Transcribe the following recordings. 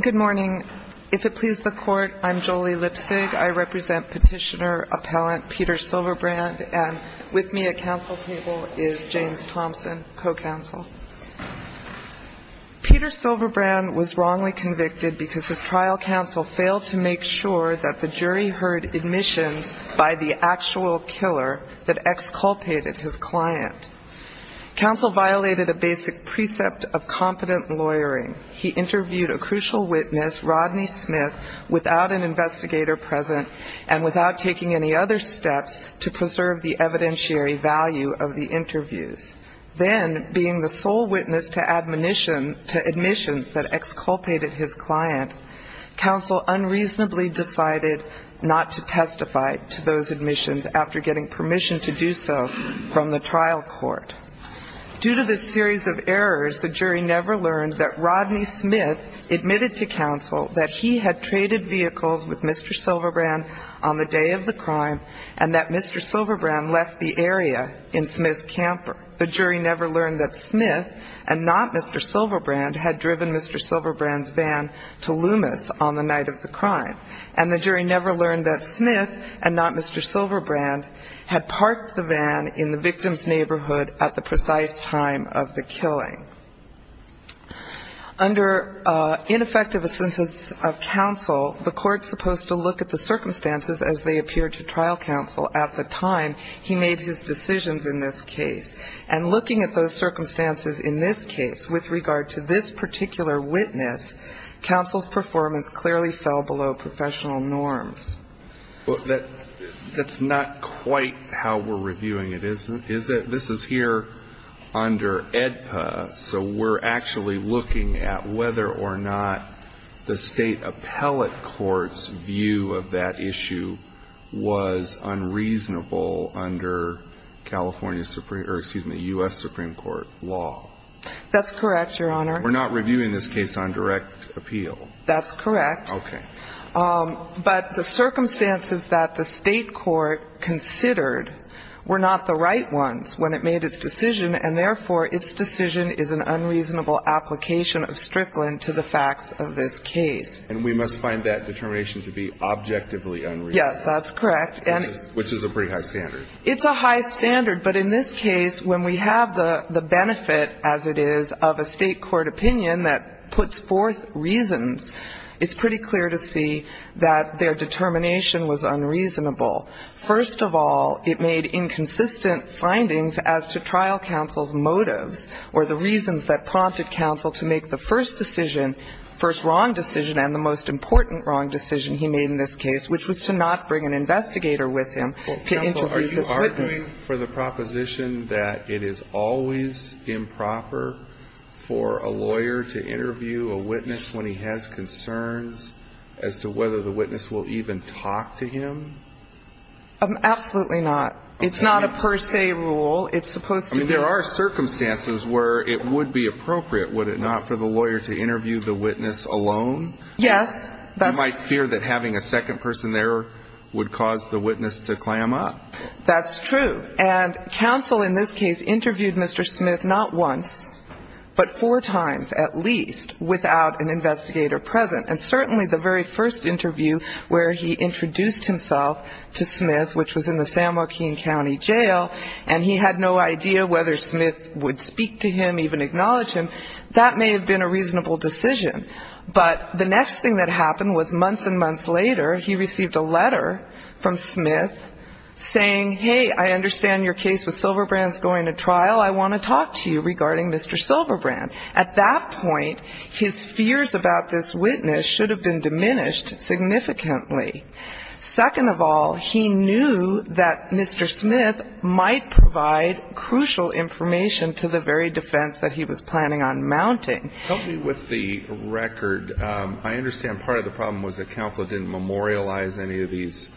Good morning. If it please the Court, I'm Jolie Lipsig. I represent Petitioner Appellant Peter Silverbrand, and with me at counsel table is James Thompson, co-counsel. Peter Silverbrand was wrongly convicted because his trial counsel failed to make sure that the jury heard admissions by the actual killer that exculpated his client. Counsel violated a basic precept of competent lawyering. He interviewed a crucial witness, Rodney Smith, without an investigator present and without taking any other steps to preserve the evidentiary value of the interviews. Then, being the sole witness to admissions that exculpated his client, counsel unreasonably decided not to testify to those admissions after getting permission to do so from the trial court. Due to this series of violations, the jury never learned that Rodney Smith admitted to counsel that he had traded vehicles with Mr. Silverbrand on the day of the crime and that Mr. Silverbrand left the area in Smith's camper. The jury never learned that Smith and not Mr. Silverbrand had driven Mr. Silverbrand's van to Loomis on the night of the crime. And the jury never learned that Smith and not Mr. Silverbrand had parked the van in the victim's neighborhood at the precise time of the killing. Under ineffective assent of counsel, the court's supposed to look at the circumstances as they appear to trial counsel at the time he made his decisions in this case. And looking at those circumstances in this case with regard to this particular witness, counsel's performance clearly fell below professional norms. Well, that's not quite how we're reviewing it, is it? This is here under AEDPA, so we're actually looking at whether or not the State appellate court's view of that issue was unreasonable under California Supreme or, excuse me, U.S. Supreme Court law. That's correct, Your Honor. We're not reviewing this case on direct appeal. That's correct. Okay. But the circumstances that the State court considered were not the right ones when it made its decision, and therefore, its decision is an unreasonable application of Strickland to the facts of this case. And we must find that determination to be objectively unreasonable. Yes, that's correct. Which is a pretty high standard. It's a high standard, but in this case, when we have the benefit, as it is, of a State court opinion that puts forth reasons, it's pretty clear to see that their determination was unreasonable. First of all, it made inconsistent findings as to trial counsel's motives or the reasons that prompted counsel to make the first decision, first wrong decision and the most important wrong decision he made in this case, which was to not bring an investigator with him to interview this witness. Well, counsel, are you arguing for the proposition that it is always improper for a lawyer to interview a witness when he has concerns as to whether the witness will even talk to him? Absolutely not. It's not a per se rule. It's supposed to be. I mean, there are circumstances where it would be appropriate, would it not, for the lawyer to interview the witness alone? Yes. You might fear that having a second person there would cause the witness to clam up. That's true. And counsel in this case interviewed Mr. Smith not once, but four times at least, without an investigator present. And certainly the very first interview where he introduced himself to Smith, which was in the San Joaquin County Jail, and he had no idea whether Smith would speak to him, even acknowledge him, that may have been a reasonable decision. But the next thing that happened was months and months later, he received a letter from Smith saying, hey, I understand your case with Silverbrand is going to trial. I want to talk to you regarding Mr. Silverbrand. At that point, his fears about this witness should have been diminished significantly. Second of all, he knew that Mr. Smith might provide crucial information to the very defense that he was planning on mounting. Help me with the record. I understand part of the problem was that counsel didn't memorialize any of these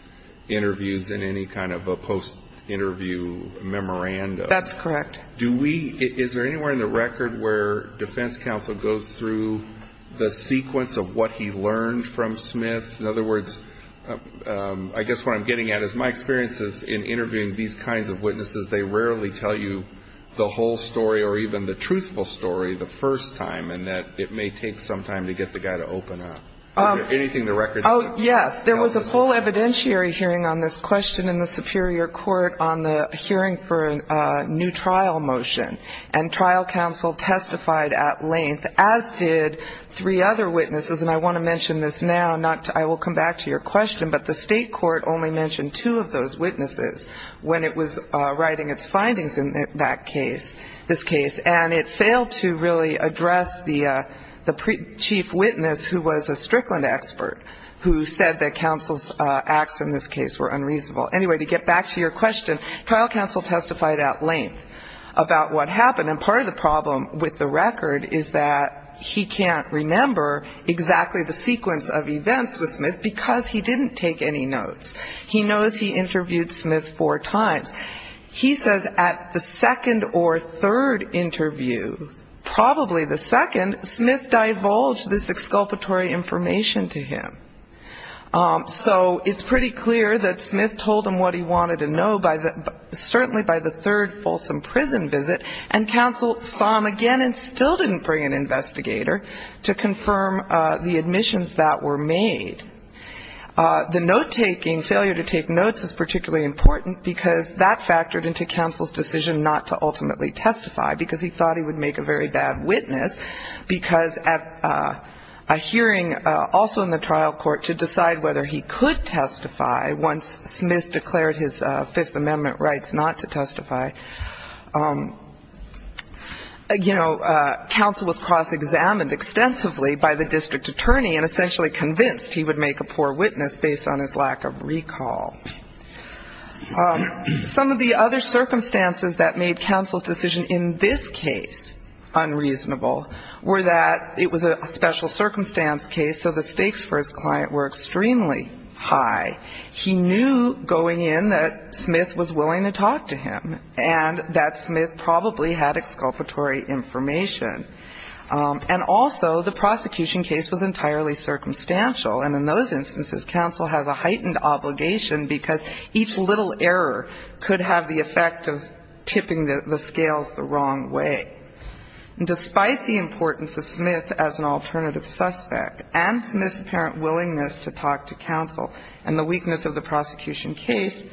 interviews in any kind of a post-interview memorandum. That's correct. Do we ñ is there anywhere in the record where defense counsel goes through the sequence of what he learned from Smith? In other words, I guess what I'm getting at is my experience is in interviewing these kinds of witnesses, they rarely tell you the whole story or even the truthful story the first time, and that it may take some time to get the guy to open up. Is there anything in the record? Oh, yes. There was a full evidentiary hearing on this question in the superior court on the hearing for a new trial motion. And trial counsel testified at length, as did three other witnesses. And I want to mention this now, not to ñ I will come back to your question, but the state court only mentioned two of those witnesses when it was writing its findings in that case, this case. And it failed to really address the chief witness, who was a Strickland expert, who said that counsel's acts in this case were unreasonable. Anyway, to get back to your question, trial counsel testified at length about what happened. And part of the problem with the record is that he can't remember exactly the sequence of events with Smith because he didn't take any notes. He knows he interviewed Smith four times. He says at the second or third interview, probably the second, Smith divulged this exculpatory information to him. So it's pretty clear that Smith told him what he wanted to know by the ñ certainly by the third Folsom prison visit, and counsel saw him again and still didn't bring an investigator to confirm the admissions that were made. The note-taking, failure to take notes is particularly important because that's ñ that factored into counsel's decision not to ultimately testify because he thought he would make a very bad witness, because at a hearing also in the trial court to decide whether he could testify once Smith declared his Fifth Amendment rights not to testify, you know, counsel was cross-examined extensively by the district attorney and essentially convinced he would make a poor witness based on his lack of recall. Some of the other circumstances that made counsel's decision in this case unreasonable were that it was a special circumstance case, so the stakes for his client were extremely high. He knew going in that Smith was willing to talk to him, and that Smith probably had exculpatory information. And also the prosecution case was entirely circumstantial, and in those instances counsel has a heightened obligation because each little error could have the effect of tipping the scales the wrong way. Despite the importance of Smith as an alternative suspect and Smith's apparent willingness to talk to counsel and the weakness of the prosecution case,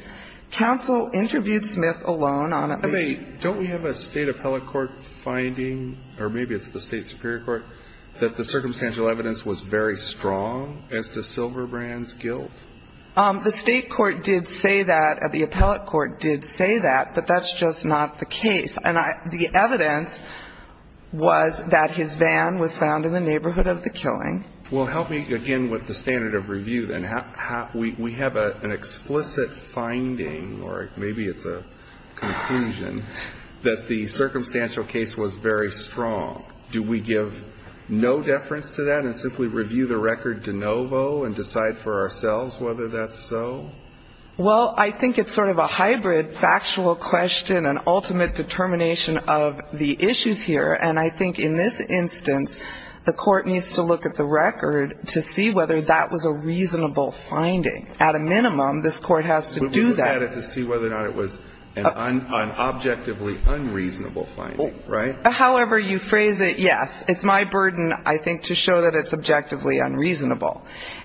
counsel interviewed Smith alone on a ñ Kennedy. Don't we have a State appellate court finding, or maybe it's the State superior court, that the circumstantial evidence was very strong as to Silverbrand's guilt? The State court did say that, the appellate court did say that, but that's just not the case. And the evidence was that his van was found in the neighborhood of the killing. Well, help me again with the standard of review, then. We have an explicit finding, or maybe it's a conclusion, that the circumstantial case was very strong. Do we give no deference to that and simply review the record de novo and decide for ourselves whether that's so? Well, I think it's sort of a hybrid factual question and ultimate determination of the issues here. And I think in this instance, the Court needs to look at the record to see whether that was a reasonable finding. At a minimum, this Court has to do that. But we would have had to see whether or not it was an objectively unreasonable finding, right? However you phrase it, yes. It's my burden, I think, to show that it's objectively unreasonable.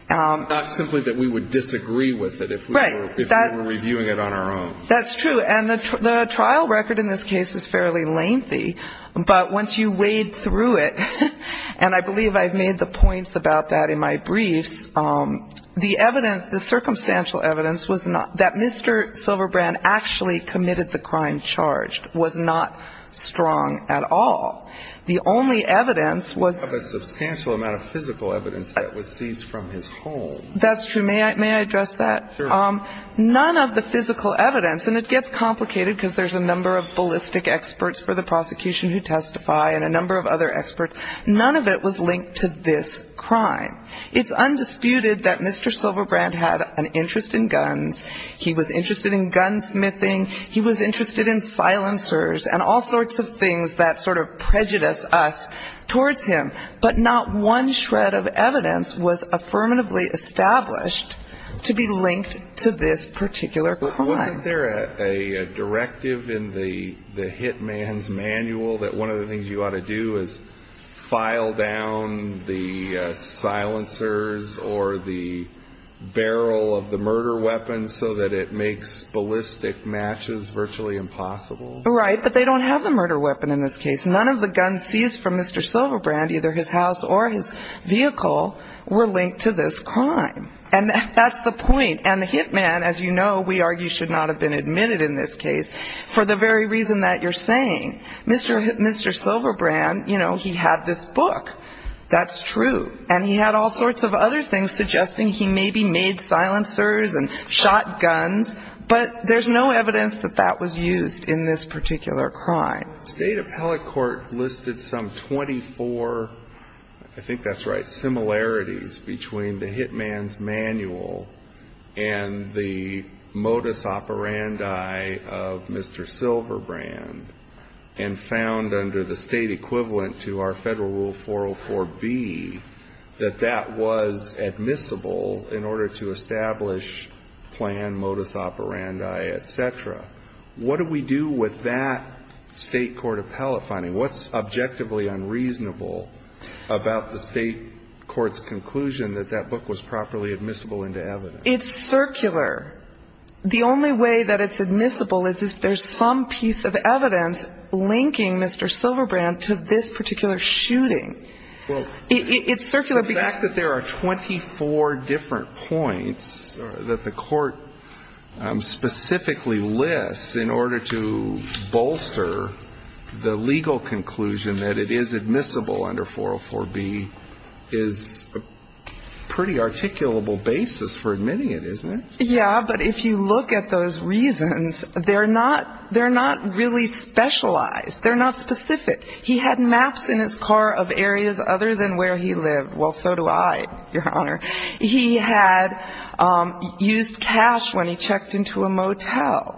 Not simply that we would disagree with it if we were reviewing it on our own. That's true. And the trial record in this case is fairly lengthy. But once you wade through it, and I believe I've made the points about that in my briefs, the evidence, the circumstantial evidence was that Mr. Silverbrand actually committed the crime charged, was not strong at all. The only evidence was of a substantial amount of physical evidence that was seized from his home. That's true. May I address that? Sure. None of the physical evidence, and it gets complicated because there's a number of ballistic experts for the prosecution who testify and a number of other experts. None of it was linked to this crime. It's undisputed that Mr. Silverbrand had an interest in guns. He was interested in gunsmithing. He was interested in silencers and all sorts of things that sort of prejudice us towards him. But not one shred of evidence was affirmatively established to be linked to this particular crime. But wasn't there a directive in the hitman's manual that one of the things you ought to do is file down the silencers or the barrel of the murder weapon so that it makes ballistic matches virtually impossible? Right, but they don't have the murder weapon in this case. None of the guns seized from Mr. Silverbrand, either his house or his vehicle, were linked to this crime. And that's the point. And the hitman, as you know, we argue should not have been admitted in this case for the very reason that you're saying. Mr. Silverbrand, you know, he had this book. That's true. And he had all sorts of other things suggesting he maybe made silencers and shot guns. But there's no evidence that that was used in this particular crime. State appellate court listed some 24, I think that's right, similarities between the hitman's manual and the modus operandi of Mr. Silverbrand and found under the state equivalent to our Federal Rule 404B that that was admissible in order to establish plan, modus operandi, et cetera. What do we do with that state court appellate finding? What's objectively unreasonable about the state court's conclusion that that book was properly admissible into evidence? It's circular. The only way that it's admissible is if there's some piece of evidence linking Mr. Silverbrand to this particular shooting. Well, the fact that there are 24 different points that the court specifically lists in order to bolster the legal conclusion that it is admissible under 404B is a pretty articulable basis for admitting it, isn't it? Yeah, but if you look at those reasons, they're not really specialized. They're not specific. He had maps in his car of areas other than where he lived. Well, so do I, Your Honor. He had used cash when he checked into a motel.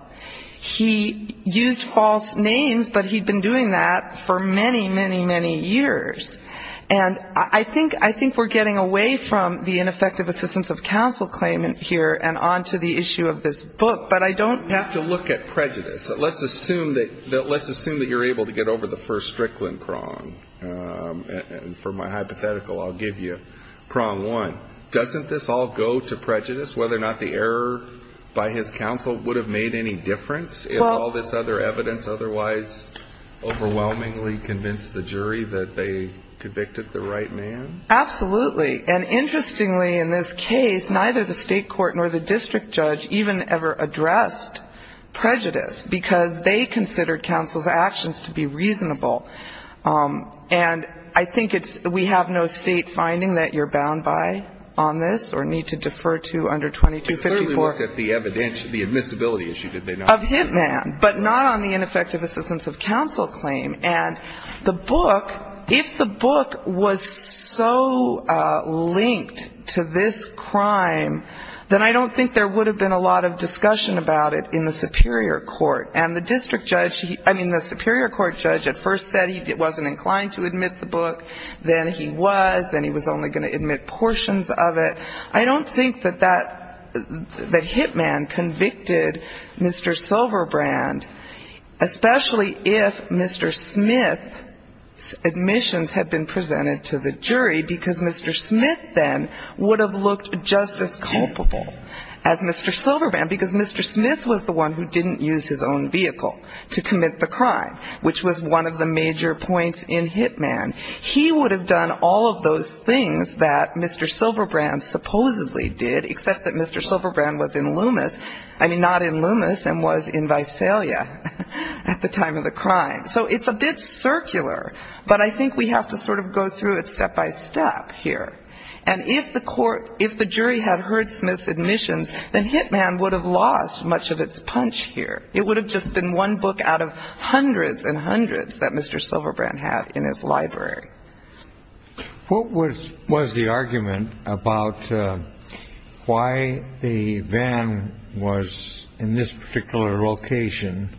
He used false names, but he'd been doing that for many, many, many years. And I think we're getting away from the ineffective assistance of counsel claim here and on to the issue of this book, but I don't have to look at prejudice. Let's assume that you're able to get over the first Strickland prong. And for my hypothetical, I'll give you prong one. Doesn't this all go to prejudice, whether or not the error by his counsel would have made any difference if all this other evidence otherwise overwhelmingly convinced the jury that they convicted the right man? Absolutely. And interestingly, in this case, neither the state court nor the district judge even ever addressed prejudice, because they considered counsel's actions to be reasonable. And I think it's we have no state finding that you're bound by on this or need to defer to under 2254. They clearly looked at the admissibility issue, did they not? Of HITMAN, but not on the ineffective assistance of counsel claim. And the book, if the book was so linked to this crime, then I don't think there would have been a lot of discussion about it in the superior court. And the district judge, I mean, the superior court judge at first said he wasn't inclined to admit the book, then he was, then he was only going to admit portions of it. I don't think that that, that HITMAN convicted Mr. Silverbrand, especially if Mr. Smith's admissions had been presented to the jury, because Mr. Smith then would have looked just as culpable as Mr. Silverbrand, because Mr. Smith was the one who didn't use his own vehicle to commit the crime, which was one of the major points in HITMAN. He would have done all of those things that Mr. Silverbrand supposedly did, except that Mr. Silverbrand was in Loomis, I mean, not in Loomis, and was in Visalia at the time of the crime. So it's a bit circular, but I think we have to sort of go through it step by step here. And if the court, if the jury had heard Smith's admissions, then HITMAN would have lost much of its punch here. It would have just been one book out of hundreds and hundreds that Mr. Silverbrand had in his library. What was the argument about why the van was in this particular location?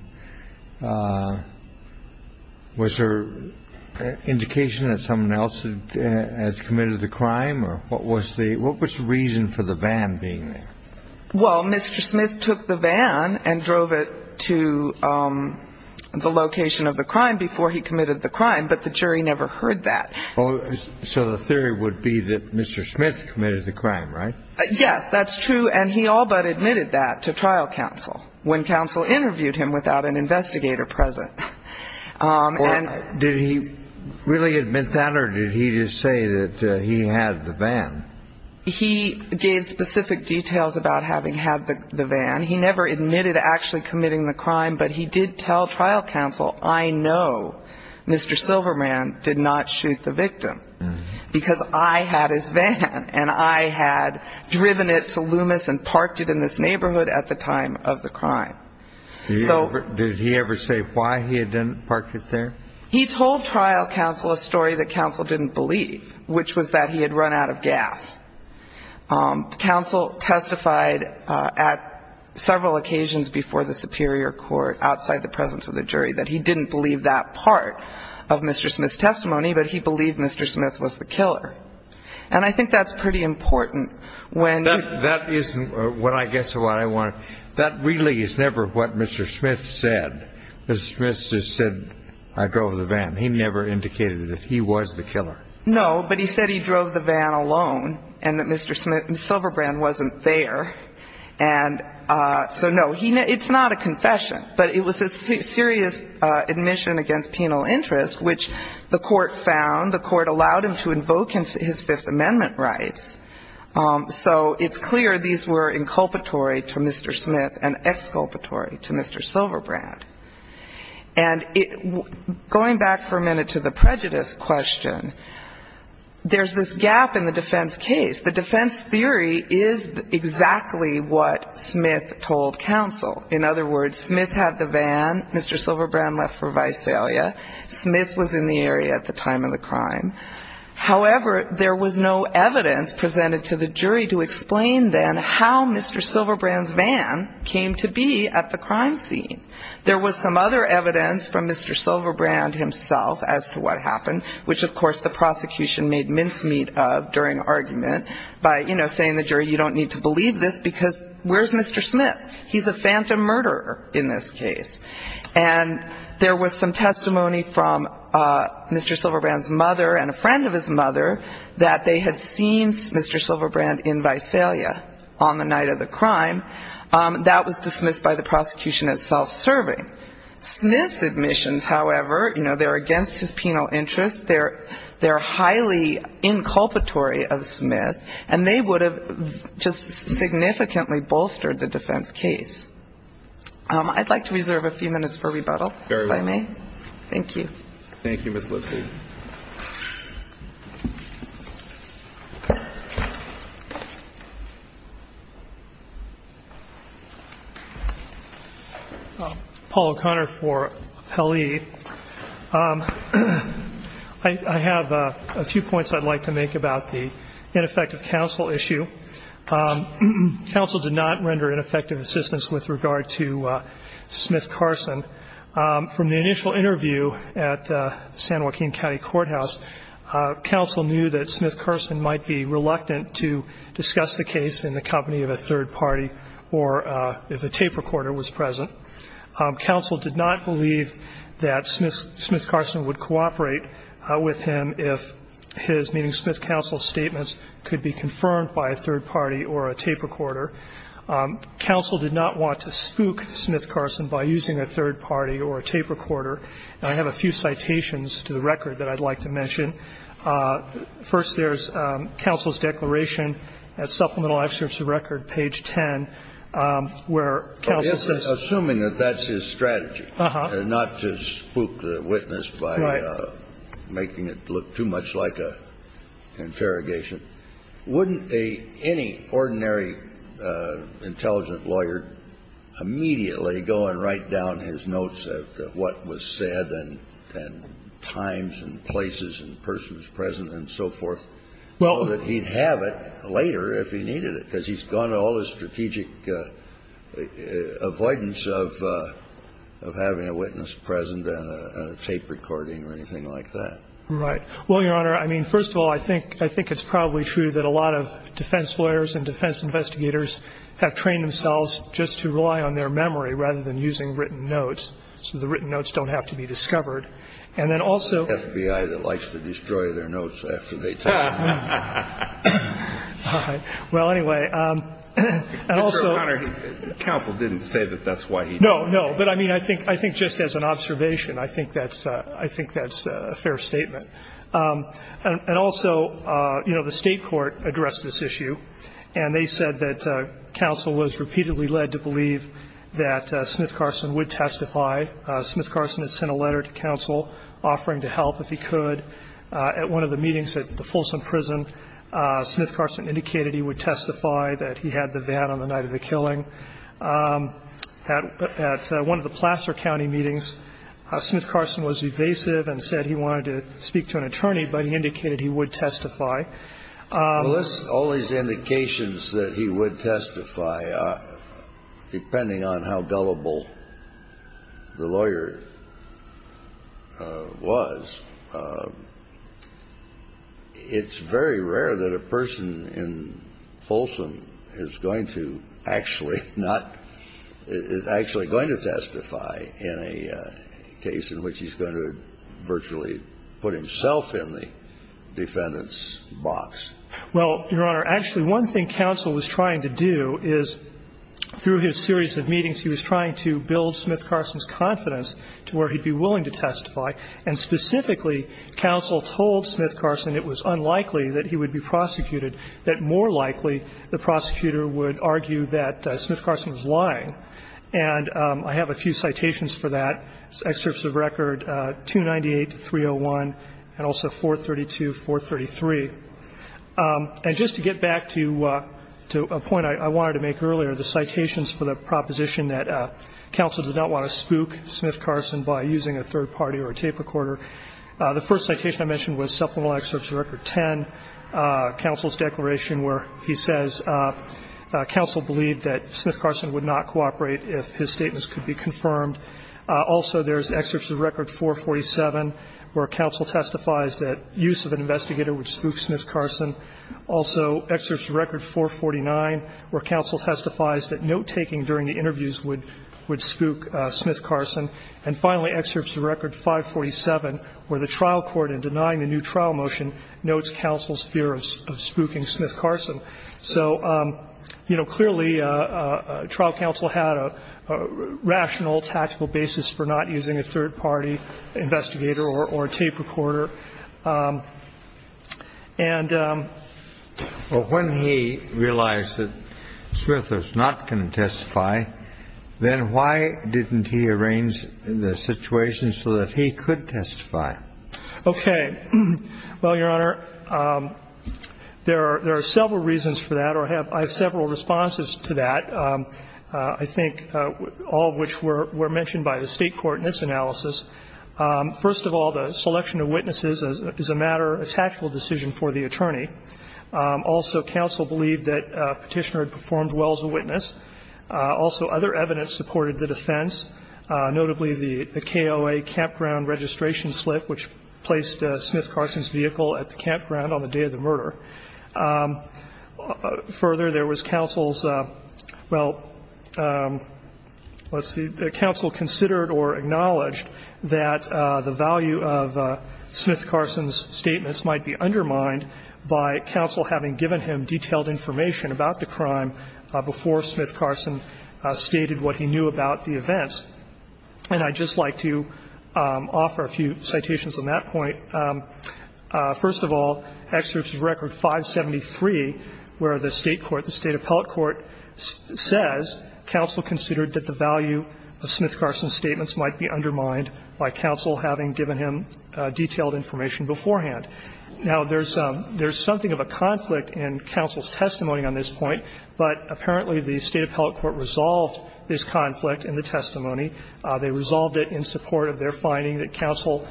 Was there indication that someone else had committed the crime? Or what was the reason for the van being there? Well, Mr. Smith took the van and drove it to the location of the crime before he committed the crime, but the jury never heard that. So the theory would be that Mr. Smith committed the crime, right? Yes, that's true. And he all but admitted that to trial counsel when counsel interviewed him without an investigator present. Did he really admit that or did he just say that he had the van? He gave specific details about having had the van. He never admitted actually committing the crime, but he did tell trial counsel, I know Mr. Silverbrand did not shoot the victim because I had his van and I had driven it to Loomis and parked it in this neighborhood at the time of the crime. Did he ever say why he had parked it there? He told trial counsel a story that counsel didn't believe, which was that he had run out of gas. Counsel testified at several occasions before the superior court outside the presence of the jury that he didn't believe that part of Mr. Smith's testimony, but he believed Mr. Smith was the killer. And I think that's pretty important when you ---- That is what I guess is what I want to ---- that really is never what Mr. Smith said. Mr. Smith just said, I drove the van. He never indicated that he was the killer. No, but he said he drove the van alone and that Mr. Silverbrand wasn't there. And so, no, it's not a confession, but it was a serious admission against penal interest, which the court found, the court allowed him to invoke his Fifth Amendment rights. So it's clear these were inculpatory to Mr. Smith and exculpatory to Mr. Silverbrand. And going back for a minute to the prejudice question, there's this gap in the defense case. The defense theory is exactly what Smith told counsel. In other words, Smith had the van, Mr. Silverbrand left for Visalia, Smith was in the area at the time of the crime. However, there was no evidence presented to the jury to explain then how Mr. Silverbrand's van came to be at the crime scene. There was some other evidence from Mr. Silverbrand himself as to what happened, which, of course, the prosecution made mincemeat of during argument by, you know, saying the jury, you don't need to believe this because where's Mr. Smith? He's a phantom murderer in this case. And there was some testimony from Mr. Silverbrand's mother and a friend of his mother that they had seen Mr. Silverbrand in Visalia on the night of the crime. That was dismissed by the prosecution as self-serving. Smith's admissions, however, you know, they're against his penal interest. They're highly inculpatory of Smith, and they would have just significantly bolstered the defense case. I'd like to reserve a few minutes for rebuttal, if I may. Thank you. Thank you, Ms. Lipsey. Paul O'Connor for L.E. I have a few points I'd like to make about the ineffective counsel issue. Counsel did not render ineffective assistance with regard to Smith Carson. From the initial interview at the San Joaquin County Courthouse, counsel knew that Smith Carson might be reluctant to discuss the case in the company of a third party or if a tape recorder was present. Counsel did not believe that Smith Carson would cooperate with him if his, meaning Smith's counsel, statements could be confirmed by a third party or a tape recorder. Counsel did not want to spook Smith Carson by using a third party or a tape recorder. And I have a few citations to the record that I'd like to mention. First, there's counsel's declaration at Supplemental Excerpts of Record, page 10, where counsel says ---- Assuming that that's his strategy, not to spook the witness by making it look too much like an interrogation. Wouldn't any ordinary intelligent lawyer immediately go and write down his notes of what was said and times and places and persons present and so forth so that he'd have it later if he needed it? Because he's gone to all this strategic avoidance of having a witness present and a tape recording or anything like that. Right. Well, Your Honor, I mean, first of all, I think it's probably true that a lot of defense lawyers and defense investigators have trained themselves just to rely on their memory rather than using written notes, so the written notes don't have to be discovered. And then also ---- It's the FBI that likes to destroy their notes after they take them. All right. Well, anyway, and also ---- Mr. O'Connor, counsel didn't say that that's why he did it. No, no. But, I mean, I think just as an observation, I think that's a fair statement. And also, you know, the state court addressed this issue, and they said that counsel was repeatedly led to believe that Smith-Carson would testify. Smith-Carson had sent a letter to counsel offering to help if he could. At one of the meetings at the Folsom Prison, Smith-Carson indicated he would testify that he had the van on the night of the killing. At one of the Placer County meetings, Smith-Carson was evasive and said he wanted to speak to an attorney, but he indicated he would testify. Well, all these indications that he would testify, depending on how gullible the lawyer was, it's very rare that a person in Folsom is going to actually not ---- is actually going to testify in a case in which he's going to virtually put himself in the defendant's box. Well, Your Honor, actually, one thing counsel was trying to do is, through his series of meetings, he was trying to build Smith-Carson's confidence to where he'd be willing to testify, and specifically, counsel told Smith-Carson it was unlikely that he would be prosecuted, that more likely the prosecutor would argue that Smith-Carson was lying. And I have a few citations for that, excerpts of record 298-301 and also 432-433. And just to get back to a point I wanted to make earlier, the citations for the proposition that counsel did not want to spook Smith-Carson by using a third party or a tape recorder, the first citation I mentioned was supplemental excerpts of record 10, counsel's declaration where he says counsel believed that Smith-Carson would not cooperate if his statements could be confirmed. Also, there's excerpts of record 447, where counsel testifies that use of an investigator would spook Smith-Carson. Also, excerpts of record 449, where counsel testifies that note-taking during the interviews would spook Smith-Carson. And finally, excerpts of record 547, where the trial court in denying the new trial motion notes counsel's fear of spooking Smith-Carson. So, you know, clearly, trial counsel had a rational, tactical basis for not using a third party investigator or a tape recorder. And so when he realized that Smith was not going to testify, then why didn't he arrange the situation so that he could testify? Okay. Well, Your Honor, there are several reasons for that, or I have several responses to that. I think all of which were mentioned by the State court in its analysis. First of all, the selection of witnesses is a matter, a tactical decision for the attorney. Also, counsel believed that Petitioner had performed well as a witness. Also, other evidence supported the defense, notably the KOA campground registration slip, which placed Smith-Carson's vehicle at the campground on the day of the murder. Further, there was counsel's, well, let's see, counsel considered or acknowledged that the value of Smith-Carson's statements might be undermined by counsel having given him detailed information about the crime before Smith-Carson stated what he knew about the events. And I'd just like to offer a few citations on that point. First of all, Excerpts of Record 573, where the State court, the State appellate court says counsel considered that the value of Smith-Carson's statements might be undermined by counsel having given him detailed information beforehand. Now, there's something of a conflict in counsel's testimony on this point, but apparently the State appellate court resolved this conflict in the testimony. They resolved it in support of their finding that counsel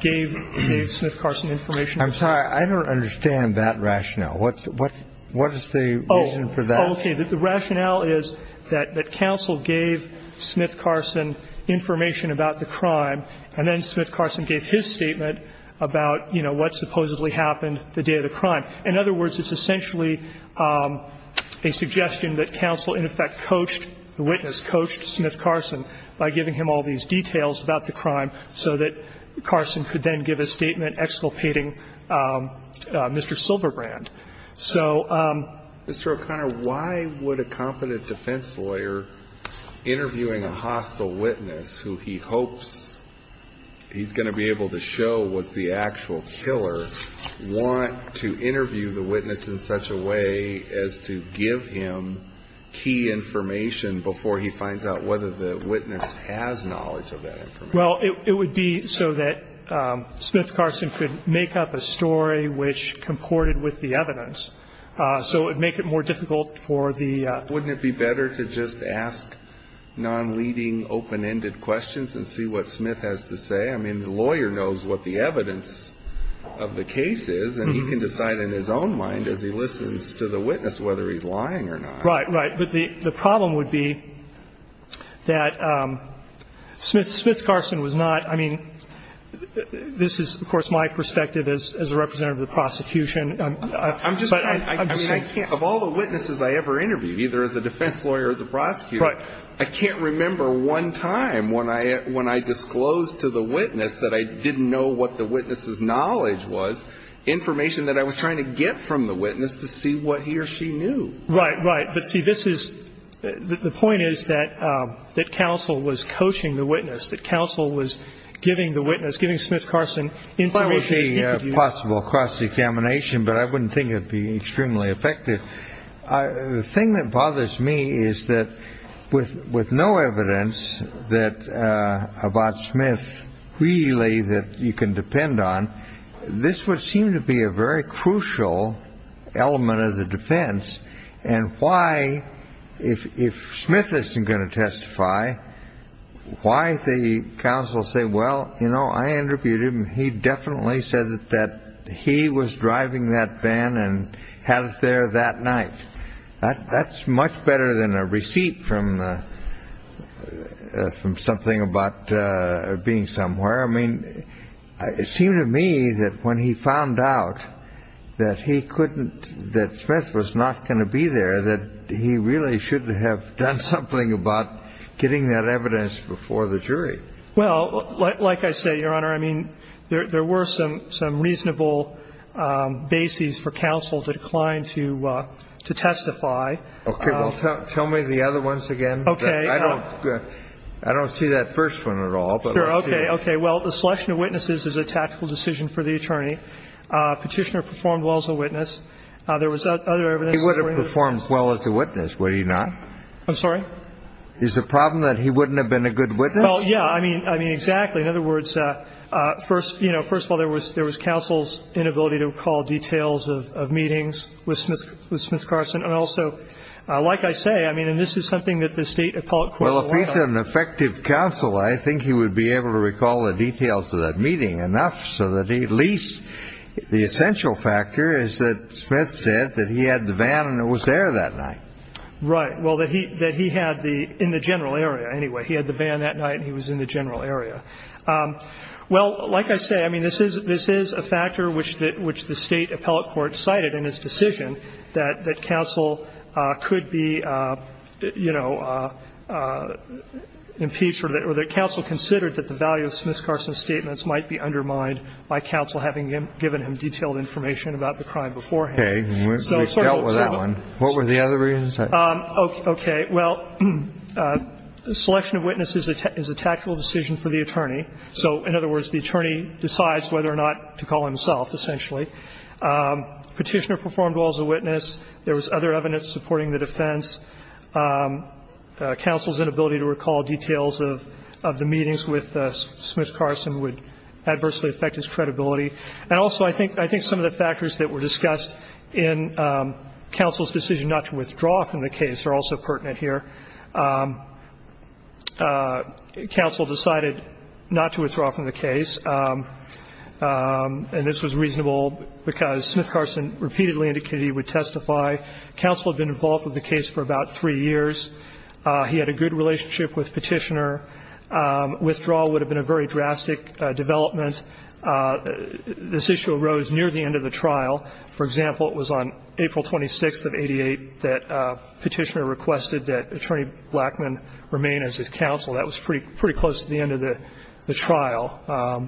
gave Smith-Carson information. I'm sorry. I don't understand that rationale. What's the reason for that? Oh, okay. The rationale is that counsel gave Smith-Carson information about the crime, and then what supposedly happened the day of the crime. In other words, it's essentially a suggestion that counsel in effect coached, the witness coached Smith-Carson by giving him all these details about the crime so that Carson could then give a statement exculpating Mr. Silverbrand. So Mr. O'Connor, why would a competent defense lawyer interviewing a hostile witness who he hopes he's going to be able to show was the actual killer want to interview the witness in such a way as to give him key information before he finds out whether the witness has knowledge of that information? Well, it would be so that Smith-Carson could make up a story which comported with the evidence. So it would make it more difficult for the ---- Wouldn't it be better to just ask non-leading, open-ended questions and see what Smith has to say? I mean, the lawyer knows what the evidence of the case is, and he can decide in his own mind as he listens to the witness whether he's lying or not. Right, right. But the problem would be that Smith-Carson was not ---- I mean, this is, of course, my perspective as a representative of the prosecution. I mean, I can't ---- of all the witnesses I ever interviewed, either as a defense lawyer or as a prosecutor, I can't remember one time when I disclosed to the witness that I didn't know what the witness's knowledge was, information that I was trying to get from the witness to see what he or she knew. Right, right. But see, this is ---- the point is that counsel was coaching the witness, that counsel was giving the witness, giving Smith-Carson information that he could use. It would be possible across examination, but I wouldn't think it would be extremely effective. The thing that bothers me is that with no evidence that ---- about Smith, really, that you can depend on, this would seem to be a very crucial element of the defense, and why, if Smith isn't going to testify, why the counsel say, well, you know, I know that he was driving that van and had it there that night. That's much better than a receipt from something about being somewhere. I mean, it seemed to me that when he found out that he couldn't ---- that Smith was not going to be there, that he really should have done something about getting that evidence before the jury. Well, like I say, Your Honor, I mean, there were some reasonable bases for counsel to decline to testify. Okay. Well, tell me the other ones again. Okay. I don't see that first one at all. Sure. Okay. Okay. Well, the selection of witnesses is a tactical decision for the attorney. Petitioner performed well as a witness. There was other evidence. He would have performed well as a witness, would he not? I'm sorry? Is the problem that he wouldn't have been a good witness? Well, yeah. I mean, exactly. In other words, you know, first of all, there was counsel's inability to recall details of meetings with Smith Carson. And also, like I say, I mean, and this is something that the State Appellate Court ---- Well, if he's an effective counsel, I think he would be able to recall the details of that meeting enough so that at least the essential factor is that Smith said that he had the van and it was there that night. Right. Well, that he had the ---- in the general area, anyway. He had the van that night and he was in the general area. Well, like I say, I mean, this is a factor which the State Appellate Court cited in its decision that counsel could be, you know, impeached or that counsel considered that the value of Smith Carson's statements might be undermined by counsel having given him detailed information about the crime beforehand. Okay. We've dealt with that one. What were the other reasons? Okay. Well, selection of witnesses is a tactical decision for the attorney. So in other words, the attorney decides whether or not to call himself, essentially. Petitioner performed well as a witness. There was other evidence supporting the defense. Counsel's inability to recall details of the meetings with Smith Carson would adversely affect his credibility. And also, I think some of the factors that were discussed in counsel's decision not to withdraw from the case are also pertinent here. Counsel decided not to withdraw from the case. And this was reasonable because Smith Carson repeatedly indicated he would testify. Counsel had been involved with the case for about three years. He had a good relationship with Petitioner. Withdrawal would have been a very drastic development. This issue arose near the end of the trial. For example, it was on April 26th of 88 that Petitioner requested that Attorney Blackman remain as his counsel. That was pretty close to the end of the trial.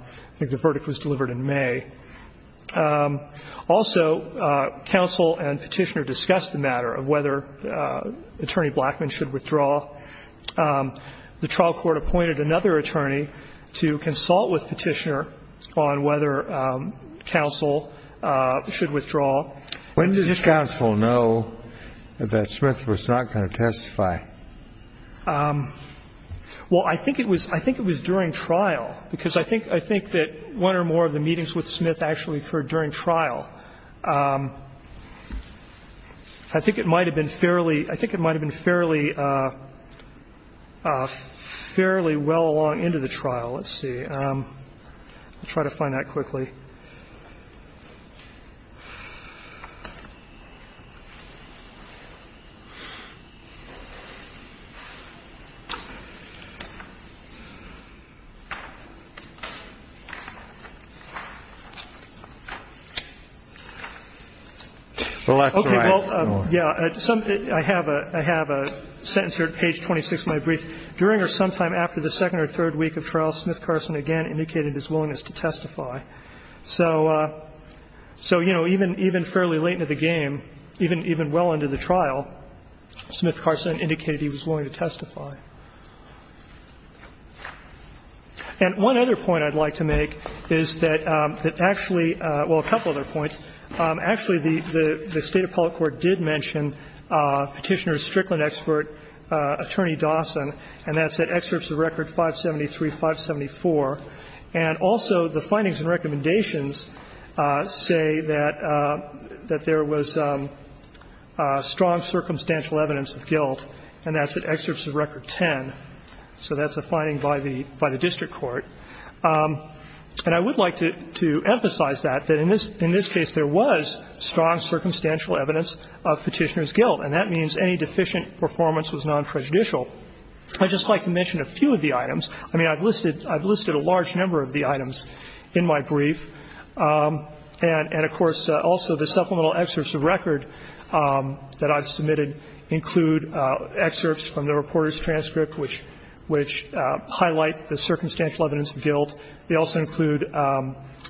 I think the verdict was delivered in May. Also, counsel and Petitioner discussed the matter of whether Attorney Blackman should withdraw. The trial court appointed another attorney to consult with Petitioner on whether counsel should withdraw. When did counsel know that Smith was not going to testify? Well, I think it was during trial, because I think that one or more of the meetings with Smith actually occurred during trial. I think it might have been fairly well along into the trial. Let's see. I'll try to find that quickly. Okay. Well, yeah. I have a sentence here at page 26 of my brief. So, you know, even fairly late into the game, even well into the trial, Smith Carson indicated he was willing to testify. And one other point I'd like to make is that actually, well, a couple other points, actually the State Appellate Court did mention Petitioner's Strickland expert, Attorney Dawson, and that's at excerpts of record 573, 574. And also the findings and recommendations say that there was strong circumstantial evidence of guilt, and that's at excerpts of record 10. So that's a finding by the district court. And I would like to emphasize that, that in this case there was strong circumstantial evidence of Petitioner's guilt. And that means any deficient performance was non-prejudicial. I'd just like to mention a few of the items. I mean, I've listed a large number of the items in my brief. And, of course, also the supplemental excerpts of record that I've submitted include excerpts from the reporter's transcript, which highlight the circumstantial evidence of guilt. They also include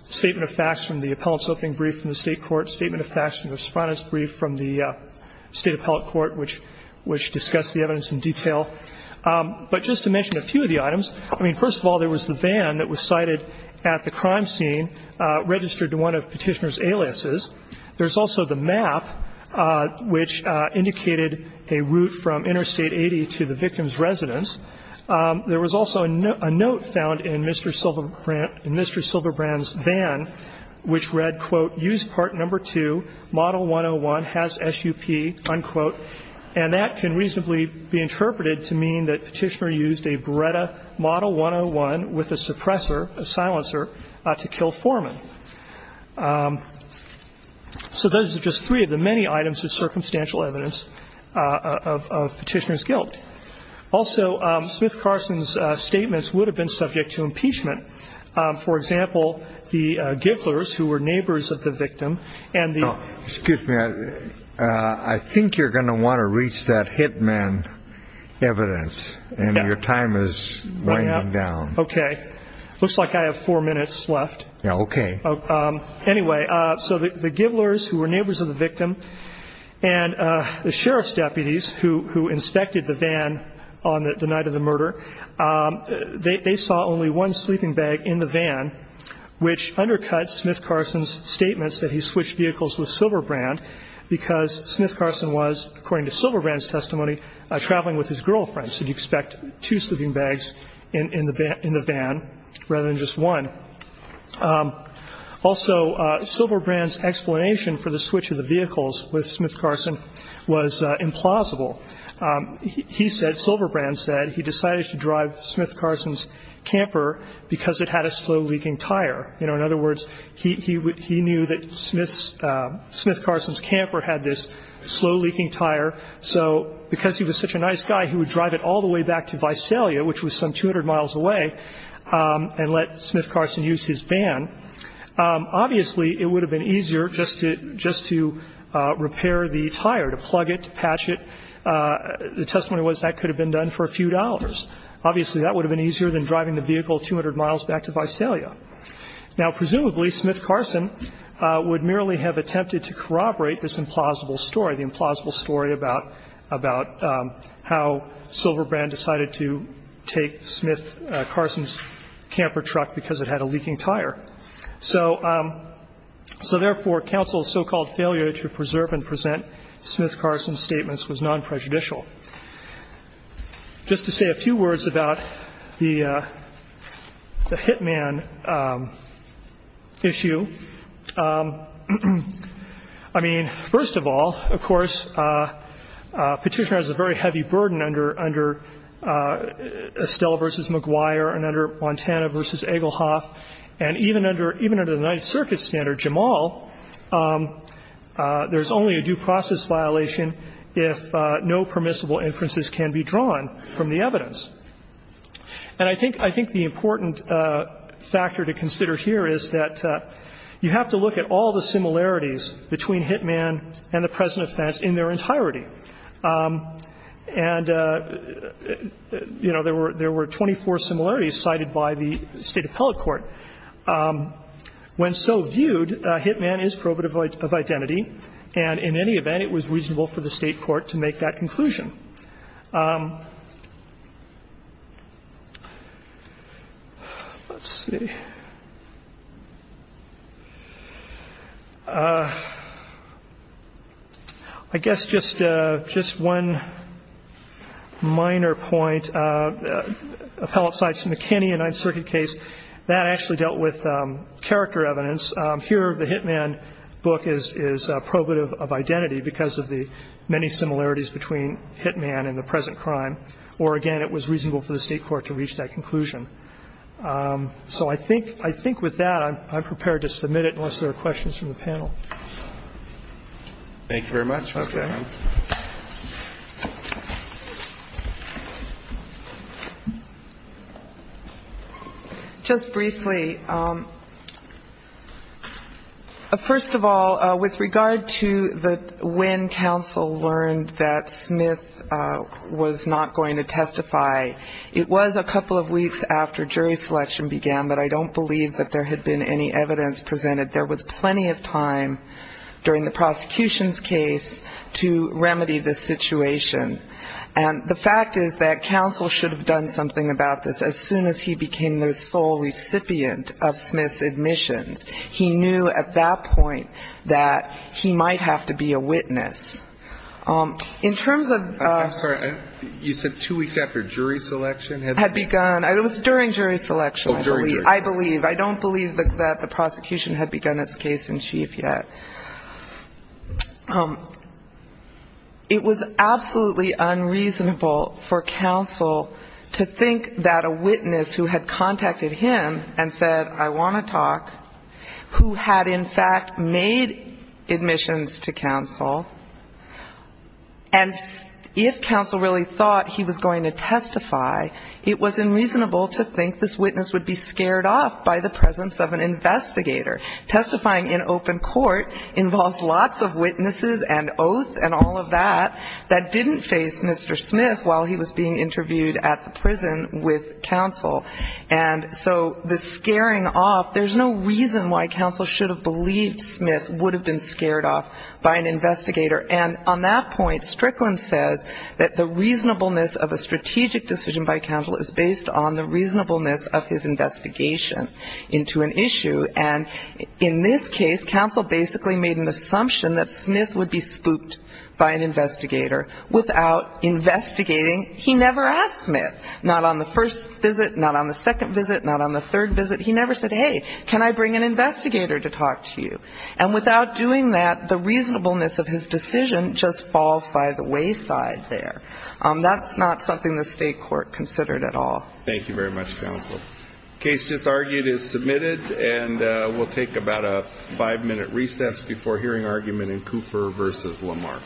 statement of facts from the appellant's opening brief from the State Appellate Court, which discussed the evidence in detail. But just to mention a few of the items, I mean, first of all, there was the van that was cited at the crime scene registered to one of Petitioner's aliases. There's also the map, which indicated a route from Interstate 80 to the victim's residence. There was also a note found in Mr. Silverbrand's van, which read, quote, And that can reasonably be interpreted to mean that Petitioner used a Beretta Model 101 with a suppressor, a silencer, to kill Foreman. So those are just three of the many items of circumstantial evidence of Petitioner's guilt. Also, Smith-Carson's statements would have been subject to impeachment. For example, the Gibblers, who were neighbors of the victim, and the Excuse me. I think you're going to want to reach that hitman evidence. And your time is running out. Okay. Looks like I have four minutes left. Okay. Anyway, so the Gibblers, who were neighbors of the victim, and the sheriff's deputies who inspected the van on the night of the murder, they saw only one sleeping bag in the van, which undercut Smith-Carson's statements that he switched vehicles with Silverbrand, because Smith-Carson was, according to Silverbrand's testimony, traveling with his girlfriend. So you'd expect two sleeping bags in the van rather than just one. Also, Silverbrand's explanation for the switch of the vehicles with Smith-Carson was implausible. He said, Silverbrand said, he decided to drive Smith-Carson's camper because it had a slow-leaking tire. You know, in other words, he knew that Smith-Carson's camper had this slow-leaking tire, so because he was such a nice guy, he would drive it all the way back to Visalia, which was some 200 miles away, and let Smith-Carson use his van. Obviously, it would have been easier just to repair the tire, to plug it, to patch it. The testimony was that could have been done for a few dollars. Obviously, that would have been easier than driving the vehicle 200 miles back to Visalia. Now, presumably, Smith-Carson would merely have attempted to corroborate this implausible story, the implausible story about how Silverbrand decided to take Smith-Carson's camper truck because it had a leaking tire. So therefore, counsel's so-called failure to preserve and present Smith-Carson's statements was non-prejudicial. Just to say a few words about the hitman issue. I mean, first of all, of course, Petitioner has a very heavy burden under Estella v. McGuire and under Montana v. Egelhoff. And even under the Ninth Circuit standard, Jamal, there's only a due process violation if no permissible inferences can be drawn from the evidence. And I think the important factor to consider here is that you have to look at all the similarities between hitman and the present offense in their entirety. And, you know, there were 24 similarities cited by the State appellate court. When so viewed, hitman is probative of identity, and in any event, it was reasonable for the State court to make that conclusion. Let's see. I guess just one minor point. Appellate cites McKinney in a Ninth Circuit case. That actually dealt with character evidence. Here the hitman book is probative of identity because of the many similarities between hitman and the present crime. Or, again, it was reasonable for the State court to reach that conclusion. So I think with that, I'm prepared to submit it unless there are questions from the panel. Thank you very much. Okay. Just briefly, first of all, with regard to when counsel learned that Smith was not going to testify, it was a couple of weeks after jury selection began, but I don't believe that there had been any evidence presented. There was plenty of time during the prosecution's case to remedy this situation. And the fact is that counsel should have done something about this as soon as he became the sole recipient of Smith's admissions. He knew at that point that he might have to be a witness. In terms of the ---- I'm sorry. You said two weeks after jury selection had begun? It was during jury selection, I believe. Oh, during jury selection. I believe. I don't believe that the prosecution had begun its case in chief yet. It was absolutely unreasonable for counsel to think that a witness who had contacted him and said, I want to talk, who had in fact made admissions to counsel, and if counsel really thought he was going to testify, it was unreasonable to think this witness would be scared off by the presence of an investigator. Testifying in open court involves lots of witnesses and oaths and all of that that didn't face Mr. Smith while he was being interviewed at the prison with counsel. And so the scaring off, there's no reason why counsel should have believed Smith would have been scared off by an investigator. And on that point, Strickland says that the reasonableness of a strategic decision by counsel is based on the reasonableness of his investigation into an issue. And in this case, counsel basically made an assumption that Smith would be spooked by an investigator without investigating. He never asked Smith, not on the first visit, not on the second visit, not on the third visit. He never said, hey, can I bring an investigator to talk to you? And without doing that, the reasonableness of his decision just falls by the wayside there. That's not something the state court considered at all. Thank you very much, counsel. Case just argued is submitted, and we'll take about a five-minute recess before hearing argument in Cooper v. Lamarck. Thank you. Thank you. Thank you.